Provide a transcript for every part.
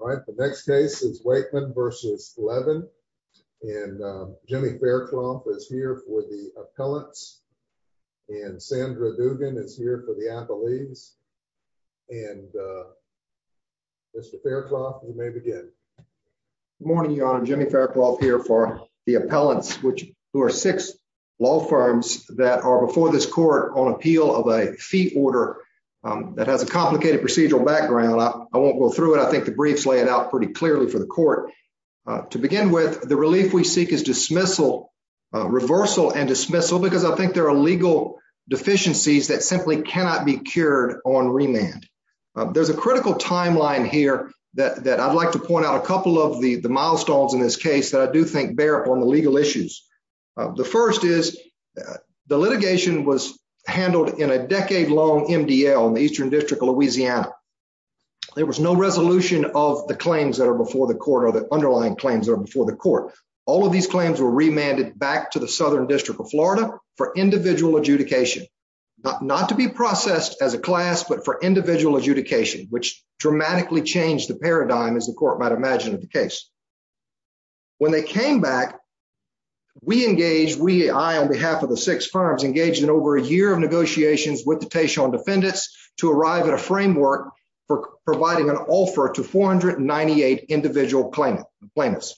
All right, the next case is Waichman v. Levin. And Jimmy Faircloth is here for the appellants. And Sandra Dugan is here for the appellees. And Mr. Faircloth, you may begin. Good morning, Your Honor. Jimmy Faircloth here for the appellants, who are six law firms that are before this court on appeal of a fee order that has a complicated procedural background. I won't go through it. I think the briefs lay it out pretty clearly for the court. To begin with, the relief we seek is reversal and dismissal because I think there are legal deficiencies that simply cannot be cured on remand. There's a critical timeline here that I'd like to point out a couple of the milestones in this case that I do think bear up on the legal issues. The first is the litigation was handled in a decade-long MDL in the Eastern District of Louisiana. There was no resolution of the claims that are before the court or the underlying claims that are before the court. All of these claims were remanded back to the Southern District of Florida for individual adjudication, not to be processed as a class, but for individual adjudication, which dramatically changed the paradigm, as the court might imagine, of the case. When they came back, we engaged, we, I on behalf of the six firms, engaged in over a year of negotiations with the Tashon defendants to arrive at a framework for providing an offer to 498 individual plaintiffs.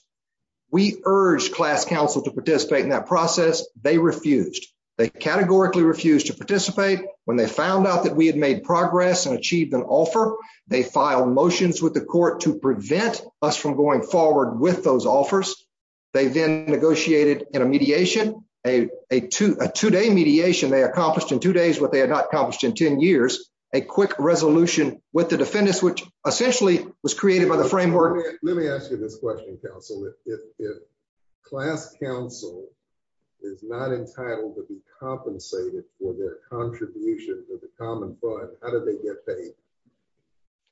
We urged class counsel to participate in that process. They refused. They categorically refused to participate. When they found out that we had made progress and achieved an offer, they filed motions with the court to prevent us from going forward with those offers. They then negotiated in a mediation, a two-day mediation they accomplished in two days what they had not accomplished in 10 years, a quick resolution with the defendants, which essentially was created by the framework. Let me ask you this question, counsel. If class counsel is not entitled to be compensated for their contribution to the common fund, how do they get paid?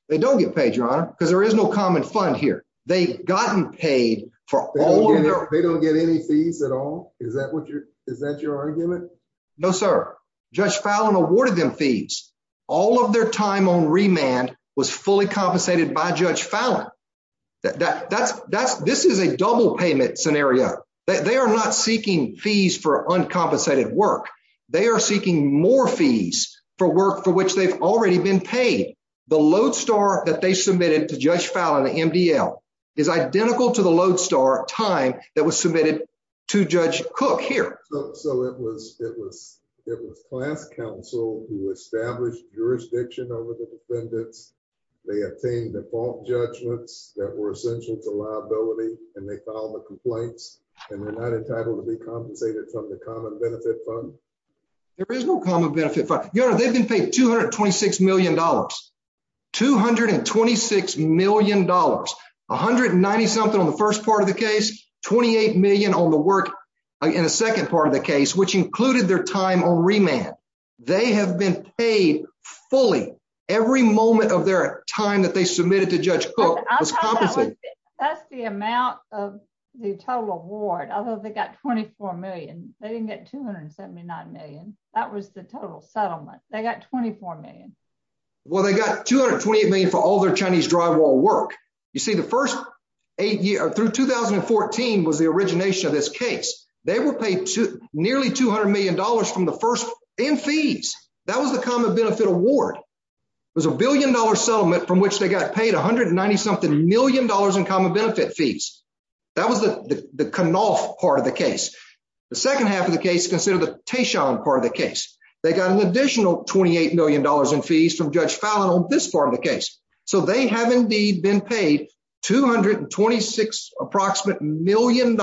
They don't get paid, Your Honor, because there is no common fund here. They've gotten paid for all of their- They don't get any fees at all? Is that your argument? No, sir. Judge Fallon awarded them fees. All of their time on remand was fully compensated by Judge Fallon. This is a double payment scenario. They are not seeking fees for uncompensated work. They are seeking more fees for work for which they've already been paid. The Lodestar that they submitted to Judge Fallon, the MDL, is identical to the Lodestar time that was submitted to Judge Cook here. So it was class counsel who established jurisdiction over the defendants. They obtained default judgments that were essential to liability. And they filed the complaints. And they're not entitled to be compensated from the common benefit fund? There is no common benefit fund. They've been paid $226 million. $226 million, $190 something on the first part of the case, $28 million on the work in the second part of the case, which included their time on remand. They have been paid fully. Every moment of their time that they submitted to Judge Cook was compensated. That's the amount of the total award, although they got $24 million. They didn't get $279 million. That was the total settlement. They got $24 million. Well, they got $228 million for all their Chinese drywall work. You see, the first eight years through 2014 was the origination of this case. They were paid nearly $200 million from the first in fees. That was the common benefit award. It was a billion dollar settlement from which they got paid $190 something million in common benefit fees. That was the Knopf part of the case. The second half of the case, consider the Teishon part of the case. They got an additional $28 million in fees from Judge Fallon on this part of the case. So they have indeed been paid $226 approximate million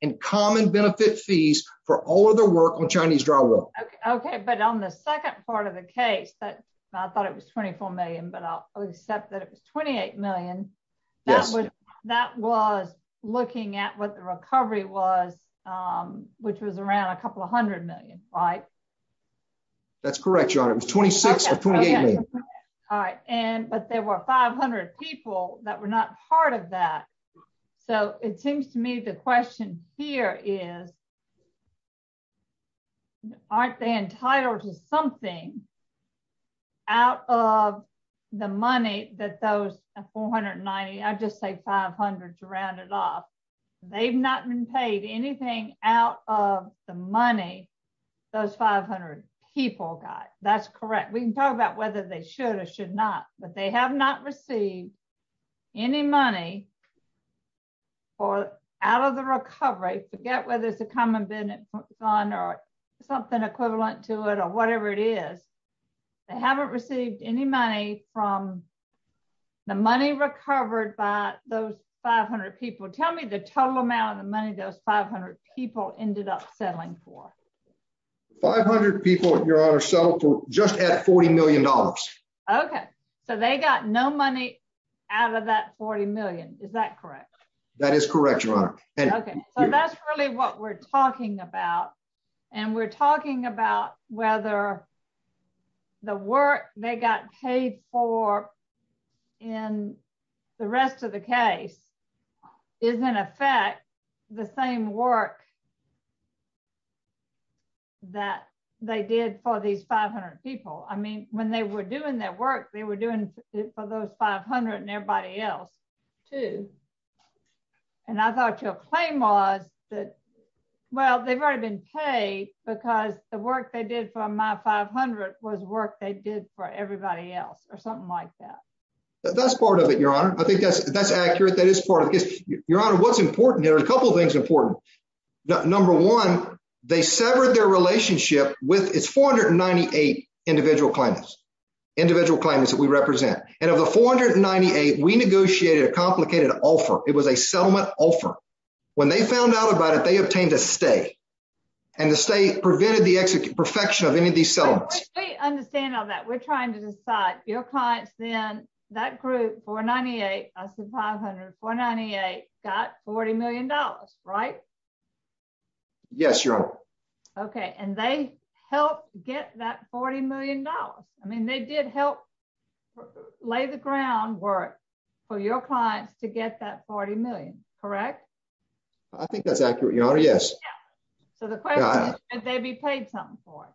in common benefit fees for all of their work on Chinese drywall. Okay, but on the second part of the case, I thought it was 24 million, but I'll accept that it was 28 million. Yes. That was looking at what the recovery was, which was around a couple of hundred million, right? That's correct, Your Honor. It was 26 or 28 million. All right, but there were 500 people that were not part of that. So it seems to me the question here is, aren't they entitled to something out of the money that those 490, I just say 500 to round it off. They've not been paid anything out of the money those 500 people got. That's correct. We can talk about whether they should or should not, but they have not received any money for out of the recovery. Forget whether it's a common benefit fund or something equivalent to it or whatever it is. They haven't received any money from the money recovered by those 500 people. Tell me the total amount of the money those 500 people ended up settling for. 500 people, Your Honor, settled for just at $40 million. Okay. So they got no money out of that 40 million. Is that correct? That is correct, Your Honor. Okay. So that's really what we're talking about. And we're talking about whether the work they got paid for in the rest of the case is in effect the same work that they did for these 500 people. I mean, when they were doing that work, they were doing it for those 500 and everybody else too. And I thought your claim was that, well, they've already been paid because the work they did for my 500 was work they did for everybody else or something like that. That's part of it, Your Honor. I think that's accurate. That is part of the case. Your Honor, what's important here, a couple of things are important. Number one, they severed their relationship with its 498 individual claimants, individual claimants that we represent. And of the 498, we negotiated a complicated offer. It was a settlement offer. When they found out about it, they obtained a stay and the stay prevented the perfection of any of these settlements. We understand all that. We're trying to decide your clients then, that group 498, I said 500, 498 got $40 million, right? Yes, Your Honor. Okay, and they helped get that $40 million. I mean, they did help lay the groundwork for your clients to get that 40 million, correct? I think that's accurate, Your Honor, yes. So the question is, should they be paid something for it?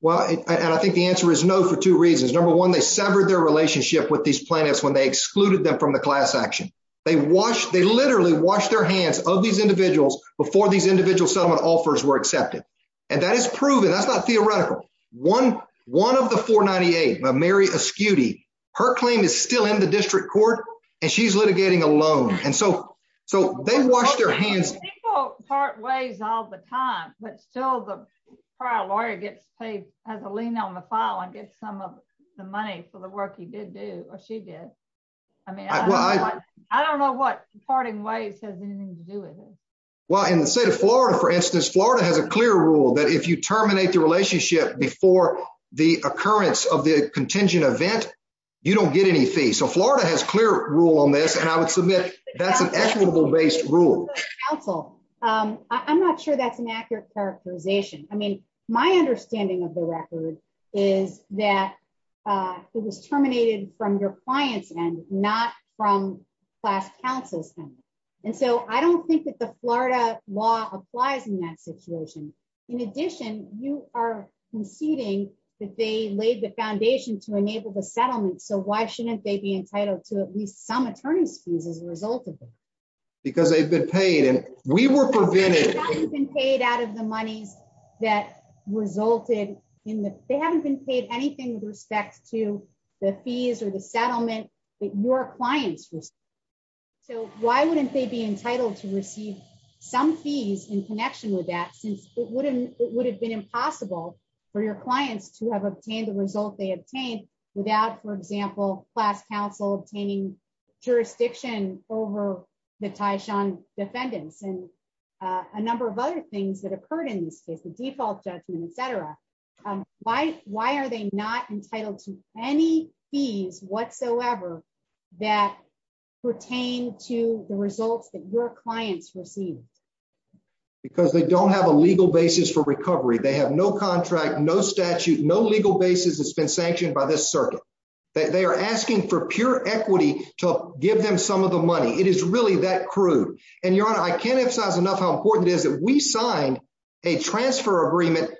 Well, and I think the answer is no, for two reasons. Number one, they severed their relationship with these plaintiffs when they excluded them from the class action. They literally washed their hands of these individuals before these individual settlement offers were accepted. And that is proven, that's not theoretical. One of the 498, Mary Ascuti, her claim is still in the district court and she's litigating alone. And so they washed their hands. People part ways all the time, but still the prior lawyer gets paid, has a lien on the file and gets some of the money for the work he did do or she did. I mean, I don't know what parting ways has anything to do with it. Well, in the state of Florida, for instance, Florida has a clear rule that if you terminate the relationship before the occurrence of the contingent event, you don't get any fee. So Florida has clear rule on this. And I would submit that's an equitable based rule. I'm not sure that's an accurate characterization. I mean, my understanding of the record is that it was terminated from your client's end, not from class counsel's end. And so I don't think that the Florida law applies in that situation. In addition, you are conceding that they laid the foundation to enable the settlement. So why shouldn't they be entitled to at least some attorney's fees as a result of it? Because they've been paid and we were prevented. They haven't been paid out of the monies that resulted in the, they haven't been paid anything with respect to the fees or the settlement that your clients received. So why wouldn't they be entitled to receive some fees in connection with that since it would have been impossible for your clients to have obtained the result they obtained without, for example, class counsel obtaining jurisdiction over the Tyshawn defendants and a number of other things that occurred in this case, the default judgment, et cetera. Why are they not entitled to any fees whatsoever that pertain to the results that your clients received? Because they don't have a legal basis for recovery. They have no contract, no statute, no legal basis that's been sanctioned by this circuit. They are asking for pure equity to give them some of the money. It is really that crude. And your honor, I can't emphasize enough how important it is that we signed a transfer agreement,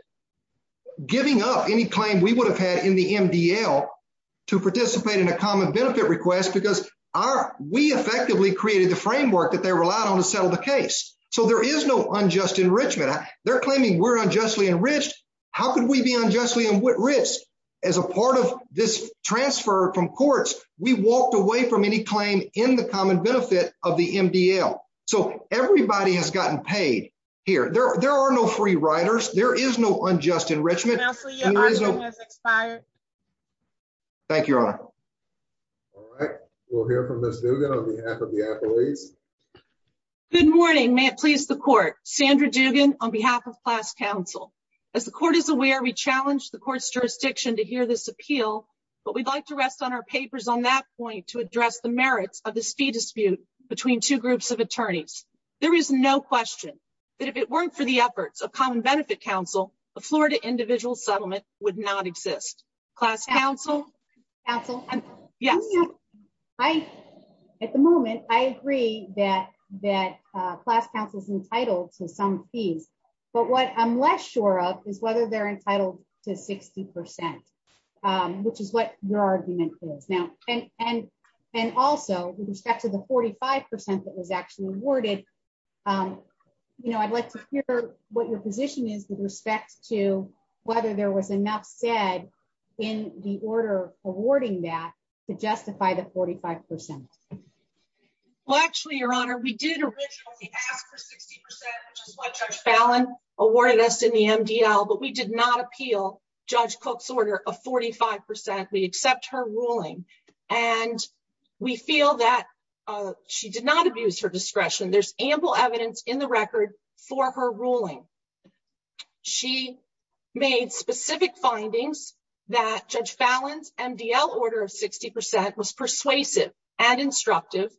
giving up any claim we would have had in the MDL to participate in a common benefit request because we effectively created the framework that they relied on to settle the case. So there is no unjust enrichment. They're claiming we're unjustly enriched. How could we be unjustly enriched? As a part of this transfer from courts, we walked away from any claim in the common benefit of the MDL. So everybody has gotten paid here. There are no free riders. There is no unjust enrichment. And there is no- Counselor, your honor has expired. Thank you, your honor. All right. We'll hear from Ms. Dugan on behalf of the attorneys. Good morning. May it please the court. Sandra Dugan on behalf of class council. As the court is aware, we challenged the court's jurisdiction to hear this appeal, but we'd like to rest on our papers on that point to address the merits of this fee dispute between two groups of attorneys. There is no question that if it weren't for the efforts of common benefit council, a Florida individual settlement would not exist. Class council. Counsel. Yes. At the moment, I agree that class council is entitled to some fees, but what I'm less sure of is whether they're entitled to 60%, which is what your argument is. Now, and also with respect to the 45% that was actually awarded, you know, I'd like to hear what your position is with respect to whether there was enough said in the order awarding that to justify the 45%. Well, actually, your honor, we did originally ask for 60%, which is what Judge Fallon awarded us in the MDL, but we did not appeal Judge Cook's order of 45%. We accept her ruling and we feel that she did not abuse her discretion. There's ample evidence in the record for her ruling. She made specific findings that Judge Fallon's MDL order of 60% was persuasive and instructive.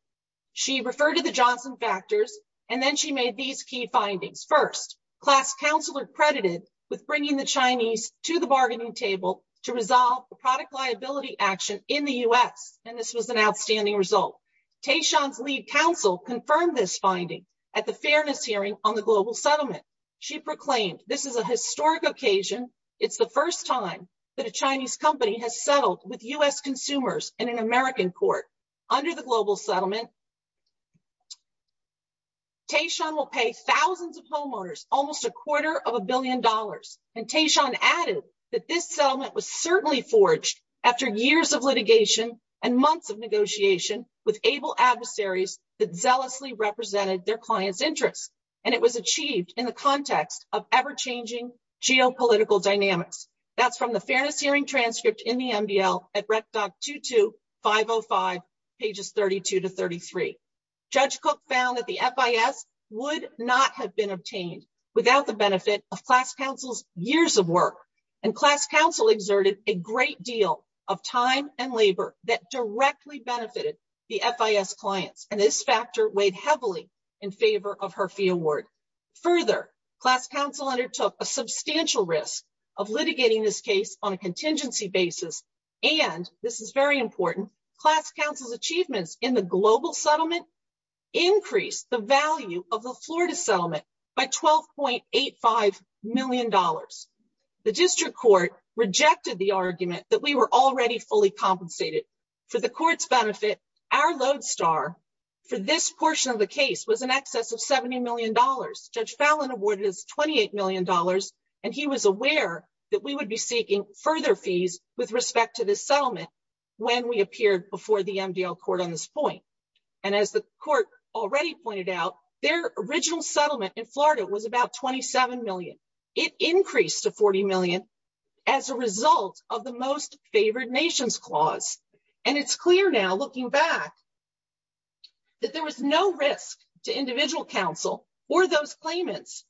She referred to the Johnson factors and then she made these key findings. First, class council are credited with bringing the Chinese to the bargaining table to resolve the product liability action in the U.S. And this was an outstanding result. Taishan's lead counsel confirmed this finding at the fairness hearing on the global settlement. She proclaimed, this is a historic occasion. It's the first time that a Chinese company has settled with U.S. consumers in an American court under the global settlement. Taishan will pay thousands of homeowners, almost a quarter of a billion dollars. And Taishan added that this settlement was certainly forged after years of litigation and months of negotiation with able adversaries that zealously represented their clients' interests. And it was achieved in the context of ever-changing geopolitical dynamics. That's from the fairness hearing transcript in the MDL at rec doc 22505, pages 32 to 33. Judge Cook found that the FIS would not have been obtained without the benefit of class council's years of work. And class council exerted a great deal of time and labor that directly benefited the FIS clients. And this factor weighed heavily in favor of her fee award. Further, class council undertook a substantial risk of litigating this case on a contingency basis. And this is very important, class council's achievements in the global settlement increased the value of the Florida settlement by $12.85 million. The district court rejected the argument that we were already fully compensated. For the court's benefit, our load star for this portion of the case was in excess of $70 million. Judge Fallon awarded us $28 million. And he was aware that we would be seeking further fees with respect to this settlement when we appeared before the MDL court on this point. And as the court already pointed out, their original settlement in Florida was about 27 million. It increased to 40 million as a result of the most favored nations clause. And it's clear now looking back that there was no risk to individual counsel or those claimants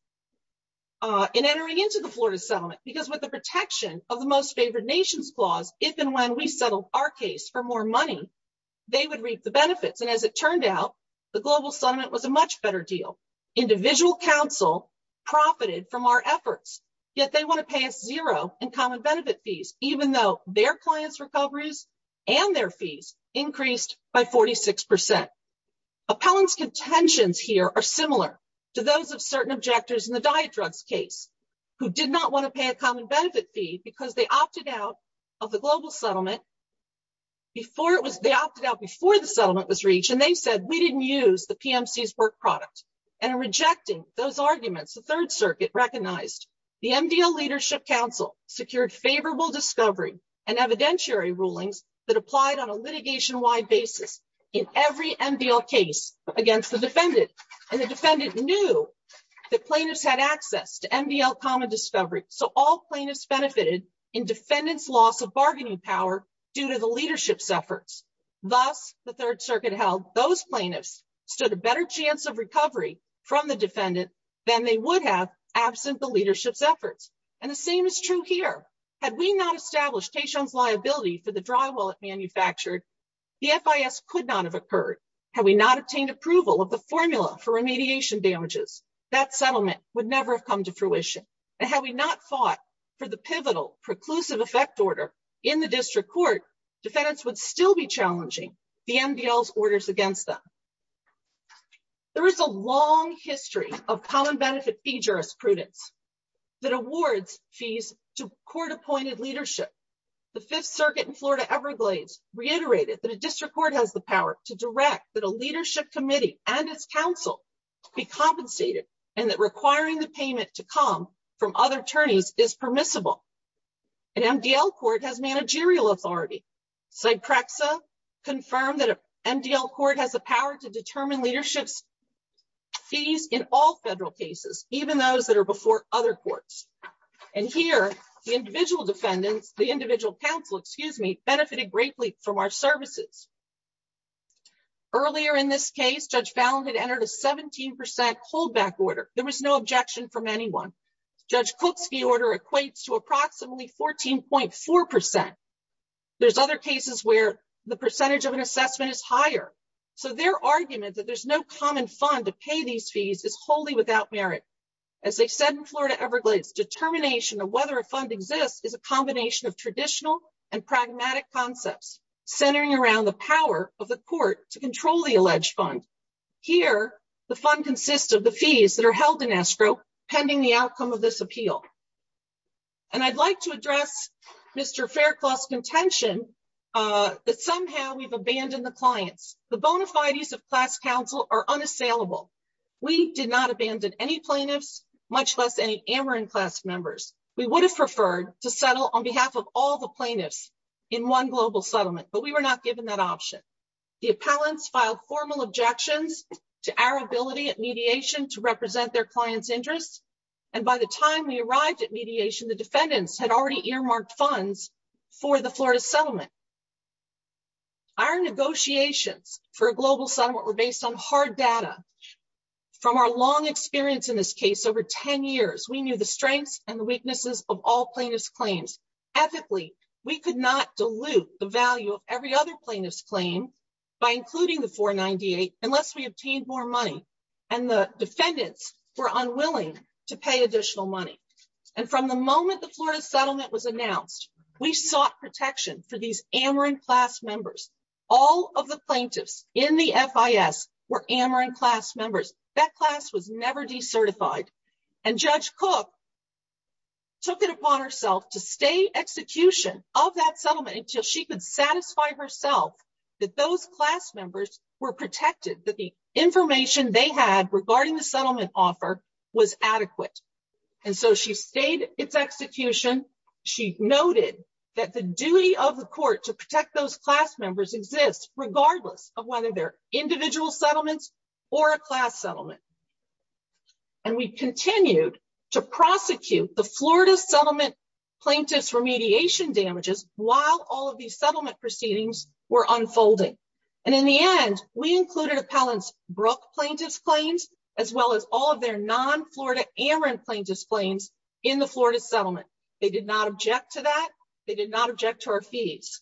in entering into the Florida settlement because with the protection of the most favored nations clause, if and when we settled our case for more money, they would reap the benefits. And as it turned out, the global settlement was a much better deal. Individual counsel profited from our efforts, yet they wanna pay us zero in common benefit fees even though their clients recoveries and their fees increased by 46%. Appellant's contentions here are similar to those of certain objectors in the diet drugs case who did not wanna pay a common benefit fee because they opted out of the global settlement before it was, they opted out before the settlement was reached. And they said, we didn't use the PMC's work product. And in rejecting those arguments, the Third Circuit recognized the MDL Leadership Council secured favorable discovery and evidentiary rulings that applied on a litigation wide basis in every MDL case against the defendant. And the defendant knew that plaintiffs had access to MDL common discovery. So all plaintiffs benefited in defendant's loss of bargaining power due to the leadership's efforts. Thus, the Third Circuit held those plaintiffs stood a better chance of recovery from the defendant than they would have absent the leadership's efforts. And the same is true here. Had we not established Taishan's liability for the drywall it manufactured, the FIS could not have occurred. for remediation damages, that settlement would never have come to fruition. And had we not fought for the pivotal preclusive effect order in the district court, defendants would still be challenging the MDL's orders against them. There is a long history of common benefit fee jurisprudence that awards fees to court appointed leadership. The Fifth Circuit in Florida Everglades reiterated that a district court has the power to direct that a leadership committee and its council be compensated. And that requiring the payment to come from other attorneys is permissible. An MDL court has managerial authority. Cyprexa confirmed that MDL court has the power to determine leadership's fees in all federal cases, even those that are before other courts. And here, the individual defendants, the individual counsel, excuse me, benefited greatly from our services. Earlier in this case, Judge Fallon had entered a 17% hold back order. There was no objection from anyone. Judge Cook's fee order equates to approximately 14.4%. There's other cases where the percentage of an assessment is higher. So their argument that there's no common fund to pay these fees is wholly without merit. As they said in Florida Everglades, determination of whether a fund exists is a combination of traditional and pragmatic concepts centering around the power of the court to control the alleged fund. Here, the fund consists of the fees that are held in escrow pending the outcome of this appeal. And I'd like to address Mr. Faircloth's contention that somehow we've abandoned the clients. The bona fides of class counsel are unassailable. We did not abandon any plaintiffs, much less any Ameren class members. We would have preferred to settle on behalf of all the plaintiffs in one global settlement, but we were not given that option. The appellants filed formal objections to our ability at mediation to represent their clients' interests. And by the time we arrived at mediation, the defendants had already earmarked funds for the Florida settlement. Our negotiations for a global settlement were based on hard data. From our long experience in this case, over 10 years, we knew the strengths and the weaknesses of all plaintiffs' claims. Ethically, we could not dilute the value of every other plaintiff's claim by including the 498 unless we obtained more money. And the defendants were unwilling to pay additional money. And from the moment the Florida settlement was announced, we sought protection for these Ameren class members. All of the plaintiffs in the FIS were Ameren class members. That class was never decertified. And Judge Cook took it upon herself to stay execution of that settlement until she could satisfy herself that those class members were protected, that the information they had regarding the settlement offer was adequate. And so she stayed its execution. She noted that the duty of the court to protect those class members exists regardless of whether they're individual settlements or a class settlement. And we continued to prosecute the Florida settlement plaintiffs' remediation damages while all of these settlement proceedings were unfolding. And in the end, we included appellants' Brooke plaintiffs' claims, as well as all of their non-Florida Ameren plaintiffs' claims in the Florida settlement. They did not object to that. They did not object to our fees.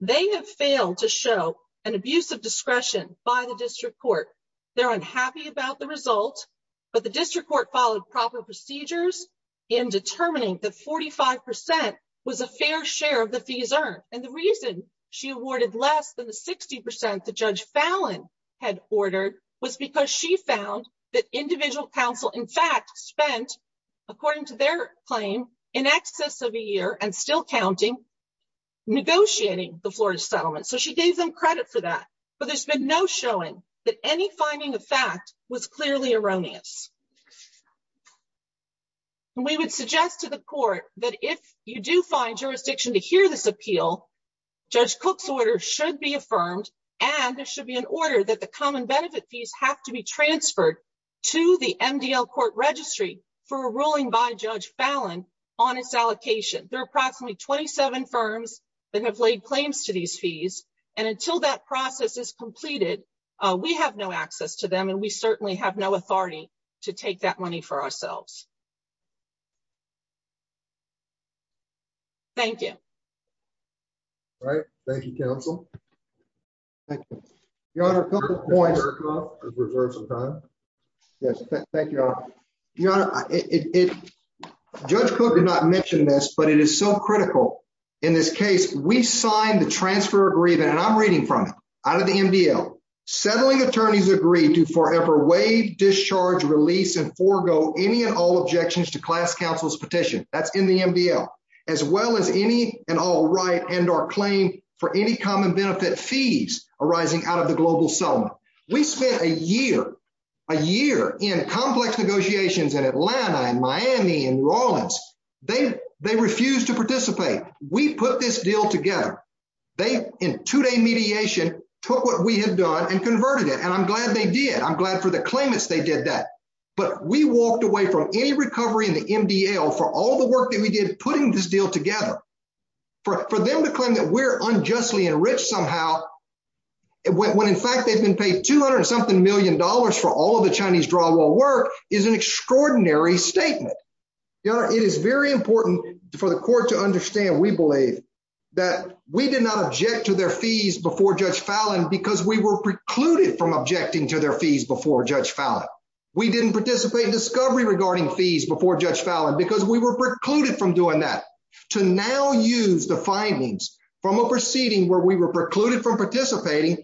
They have failed to show an abuse of discretion by the district court. They're unhappy about the result, but the district court followed proper procedures in determining that 45% was a fair share of the fees earned. And the reason she awarded less than the 60% that Judge Fallon had ordered was because she found that individual counsel, in fact, spent, according to their claim, in excess of a year and still counting, negotiating the Florida settlement. So she gave them credit for that, but there's been no showing that any finding of fact was clearly erroneous. And we would suggest to the court that if you do find jurisdiction to hear this appeal, Judge Cook's order should be affirmed, and there should be an order that the common benefit fees have to be transferred to the MDL court registry for a ruling by Judge Fallon on its allocation. There are approximately 27 firms that have laid claims to these fees, and until that process is completed, we have no access to them, and we certainly have no authority to take that money for ourselves. Thank you. Thank you. All right, thank you, counsel. Thank you. Your Honor, a couple of points. Judge Erkoff has reserved some time. Yes, thank you, Your Honor. Your Honor, Judge Cook did not mention this, but it is so critical. In this case, we signed the transfer agreement, and I'm reading from it, out of the MDL. Settling attorneys agree to forever waive, discharge, release, and forego any and all objections to class counsel's petition, that's in the MDL, as well as any and all right and or claim for any common benefit fees arising out of the global settlement. We spent a year, a year, in complex negotiations in Atlanta and Miami and New Orleans. They refused to participate. We put this deal together. They, in two-day mediation, took what we had done and converted it, and I'm glad they did. I'm glad for the claimants they did that, but we walked away from any recovery in the MDL for all the work that we did putting this deal together. For them to claim that we're unjustly enriched somehow, when in fact they've been paid 200 and something million dollars for all of the Chinese drywall work, is an extraordinary statement. Your Honor, it is very important for the court to understand, we believe, that we did not object to their fees before Judge Fallin because we were precluded from objecting to their fees before Judge Fallin. We didn't participate in discovery regarding fees before Judge Fallin because we were precluded from doing that. To now use the findings from a proceeding where we were precluded from participating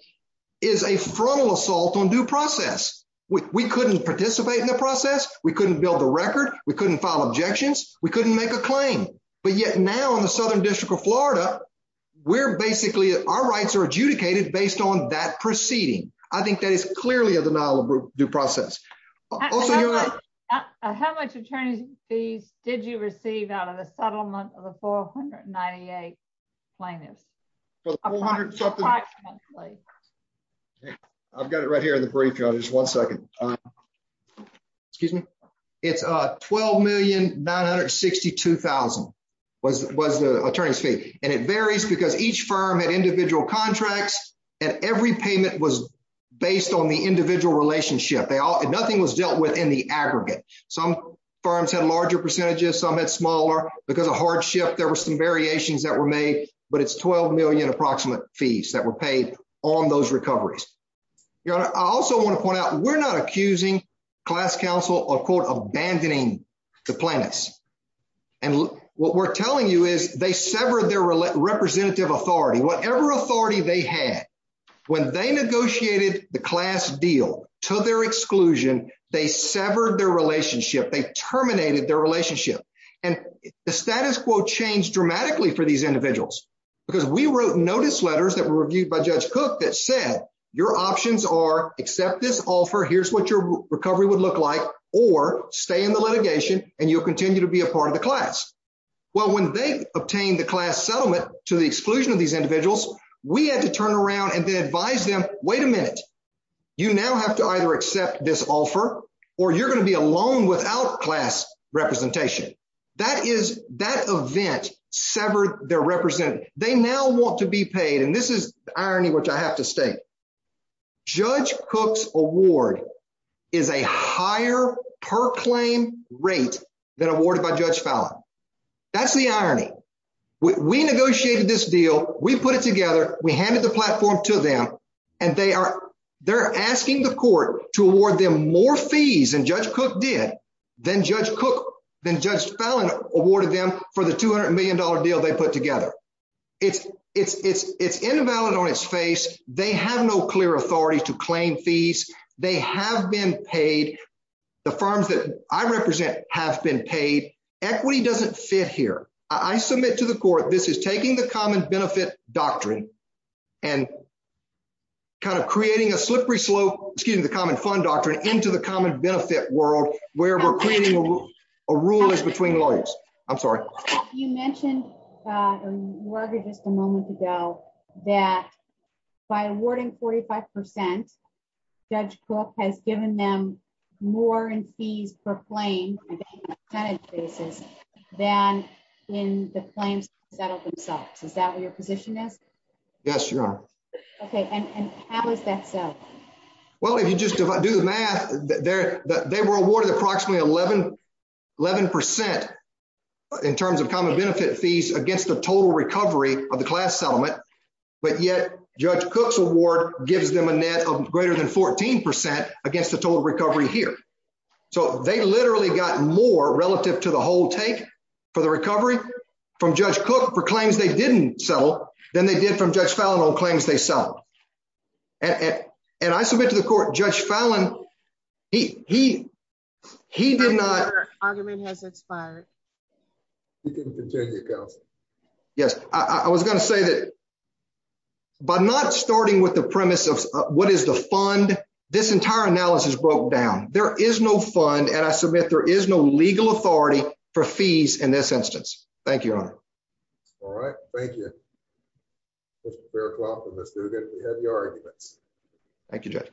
is a frontal assault on due process. We couldn't participate in the process. We couldn't build the record. We couldn't file objections. We couldn't make a claim, but yet now in the Southern District of Florida, we're basically, our rights are adjudicated based on that proceeding. I think that is clearly a denial of due process. How much attorney's fees did you receive out of the settlement of the 498 plaintiffs? I've got it right here in the brief, Your Honor. Just one second. Excuse me. It's 12,962,000 was the attorney's fee. And it varies because each firm had individual contracts and every payment was based on the individual relationship. Nothing was dealt with in the aggregate. Some firms had larger percentages. Some had smaller. Because of hardship, there were some variations that were made, but it's 12 million approximate fees that were paid on those recoveries. Your Honor, I also want to point out, we're not accusing class counsel of quote, abandoning the plaintiffs. And what we're telling you is they severed their representative authority. Whatever authority they had. When they negotiated the class deal to their exclusion, they severed their relationship. They terminated their relationship. And the status quo changed dramatically for these individuals. Because we wrote notice letters that were reviewed by Judge Cook that said your options are accept this offer. Here's what your recovery would look like or stay in the litigation and you'll continue to be a part of the class. Well, when they obtained the class settlement to the exclusion of these individuals, we had to turn around and then advise them, wait a minute, you now have to either accept this offer or you're gonna be alone without class representation. That event severed their representative. They now want to be paid. And this is the irony, which I have to state. Judge Cook's award is a higher per claim rate than awarded by Judge Fallon. That's the irony. We negotiated this deal. We put it together. We handed the platform to them and they're asking the court to award them more fees than Judge Cook did, than Judge Fallon awarded them for the $200 million deal they put together. It's invalid on its face. They have no clear authority to claim fees. They have been paid. The firms that I represent have been paid. Equity doesn't fit here. I submit to the court, this is taking the common benefit doctrine and kind of creating a slippery slope, excuse me, the common fund doctrine into the common benefit world where we're creating a rule is between lawyers. I'm sorry. You mentioned a little bit just a moment ago that by awarding 45%, Judge Cook has given them more in fees per claim on a percentage basis than in the claims that settled themselves. Is that what your position is? Yes, Your Honor. Okay, and how is that so? Well, if you just do the math, they were awarded approximately 11% in terms of common benefit fees against the total recovery of the class settlement, but yet Judge Cook's award gives them a net of greater than 14% against the total recovery here. So they literally got more relative to the whole take for the recovery from Judge Cook for claims they didn't settle than they did from Judge Fallon on claims they settled. And I submit to the court, Judge Fallon, he did not- I think your argument has expired. You can continue, counsel. Yes, I was gonna say that by not starting with the premise of what is the fund, this entire analysis broke down. There is no fund, and I submit there is no legal authority for fees in this instance. Thank you, Your Honor. All right, thank you, Mr. Faircloth and Ms. Dugan. We have your arguments. Thank you, Judge.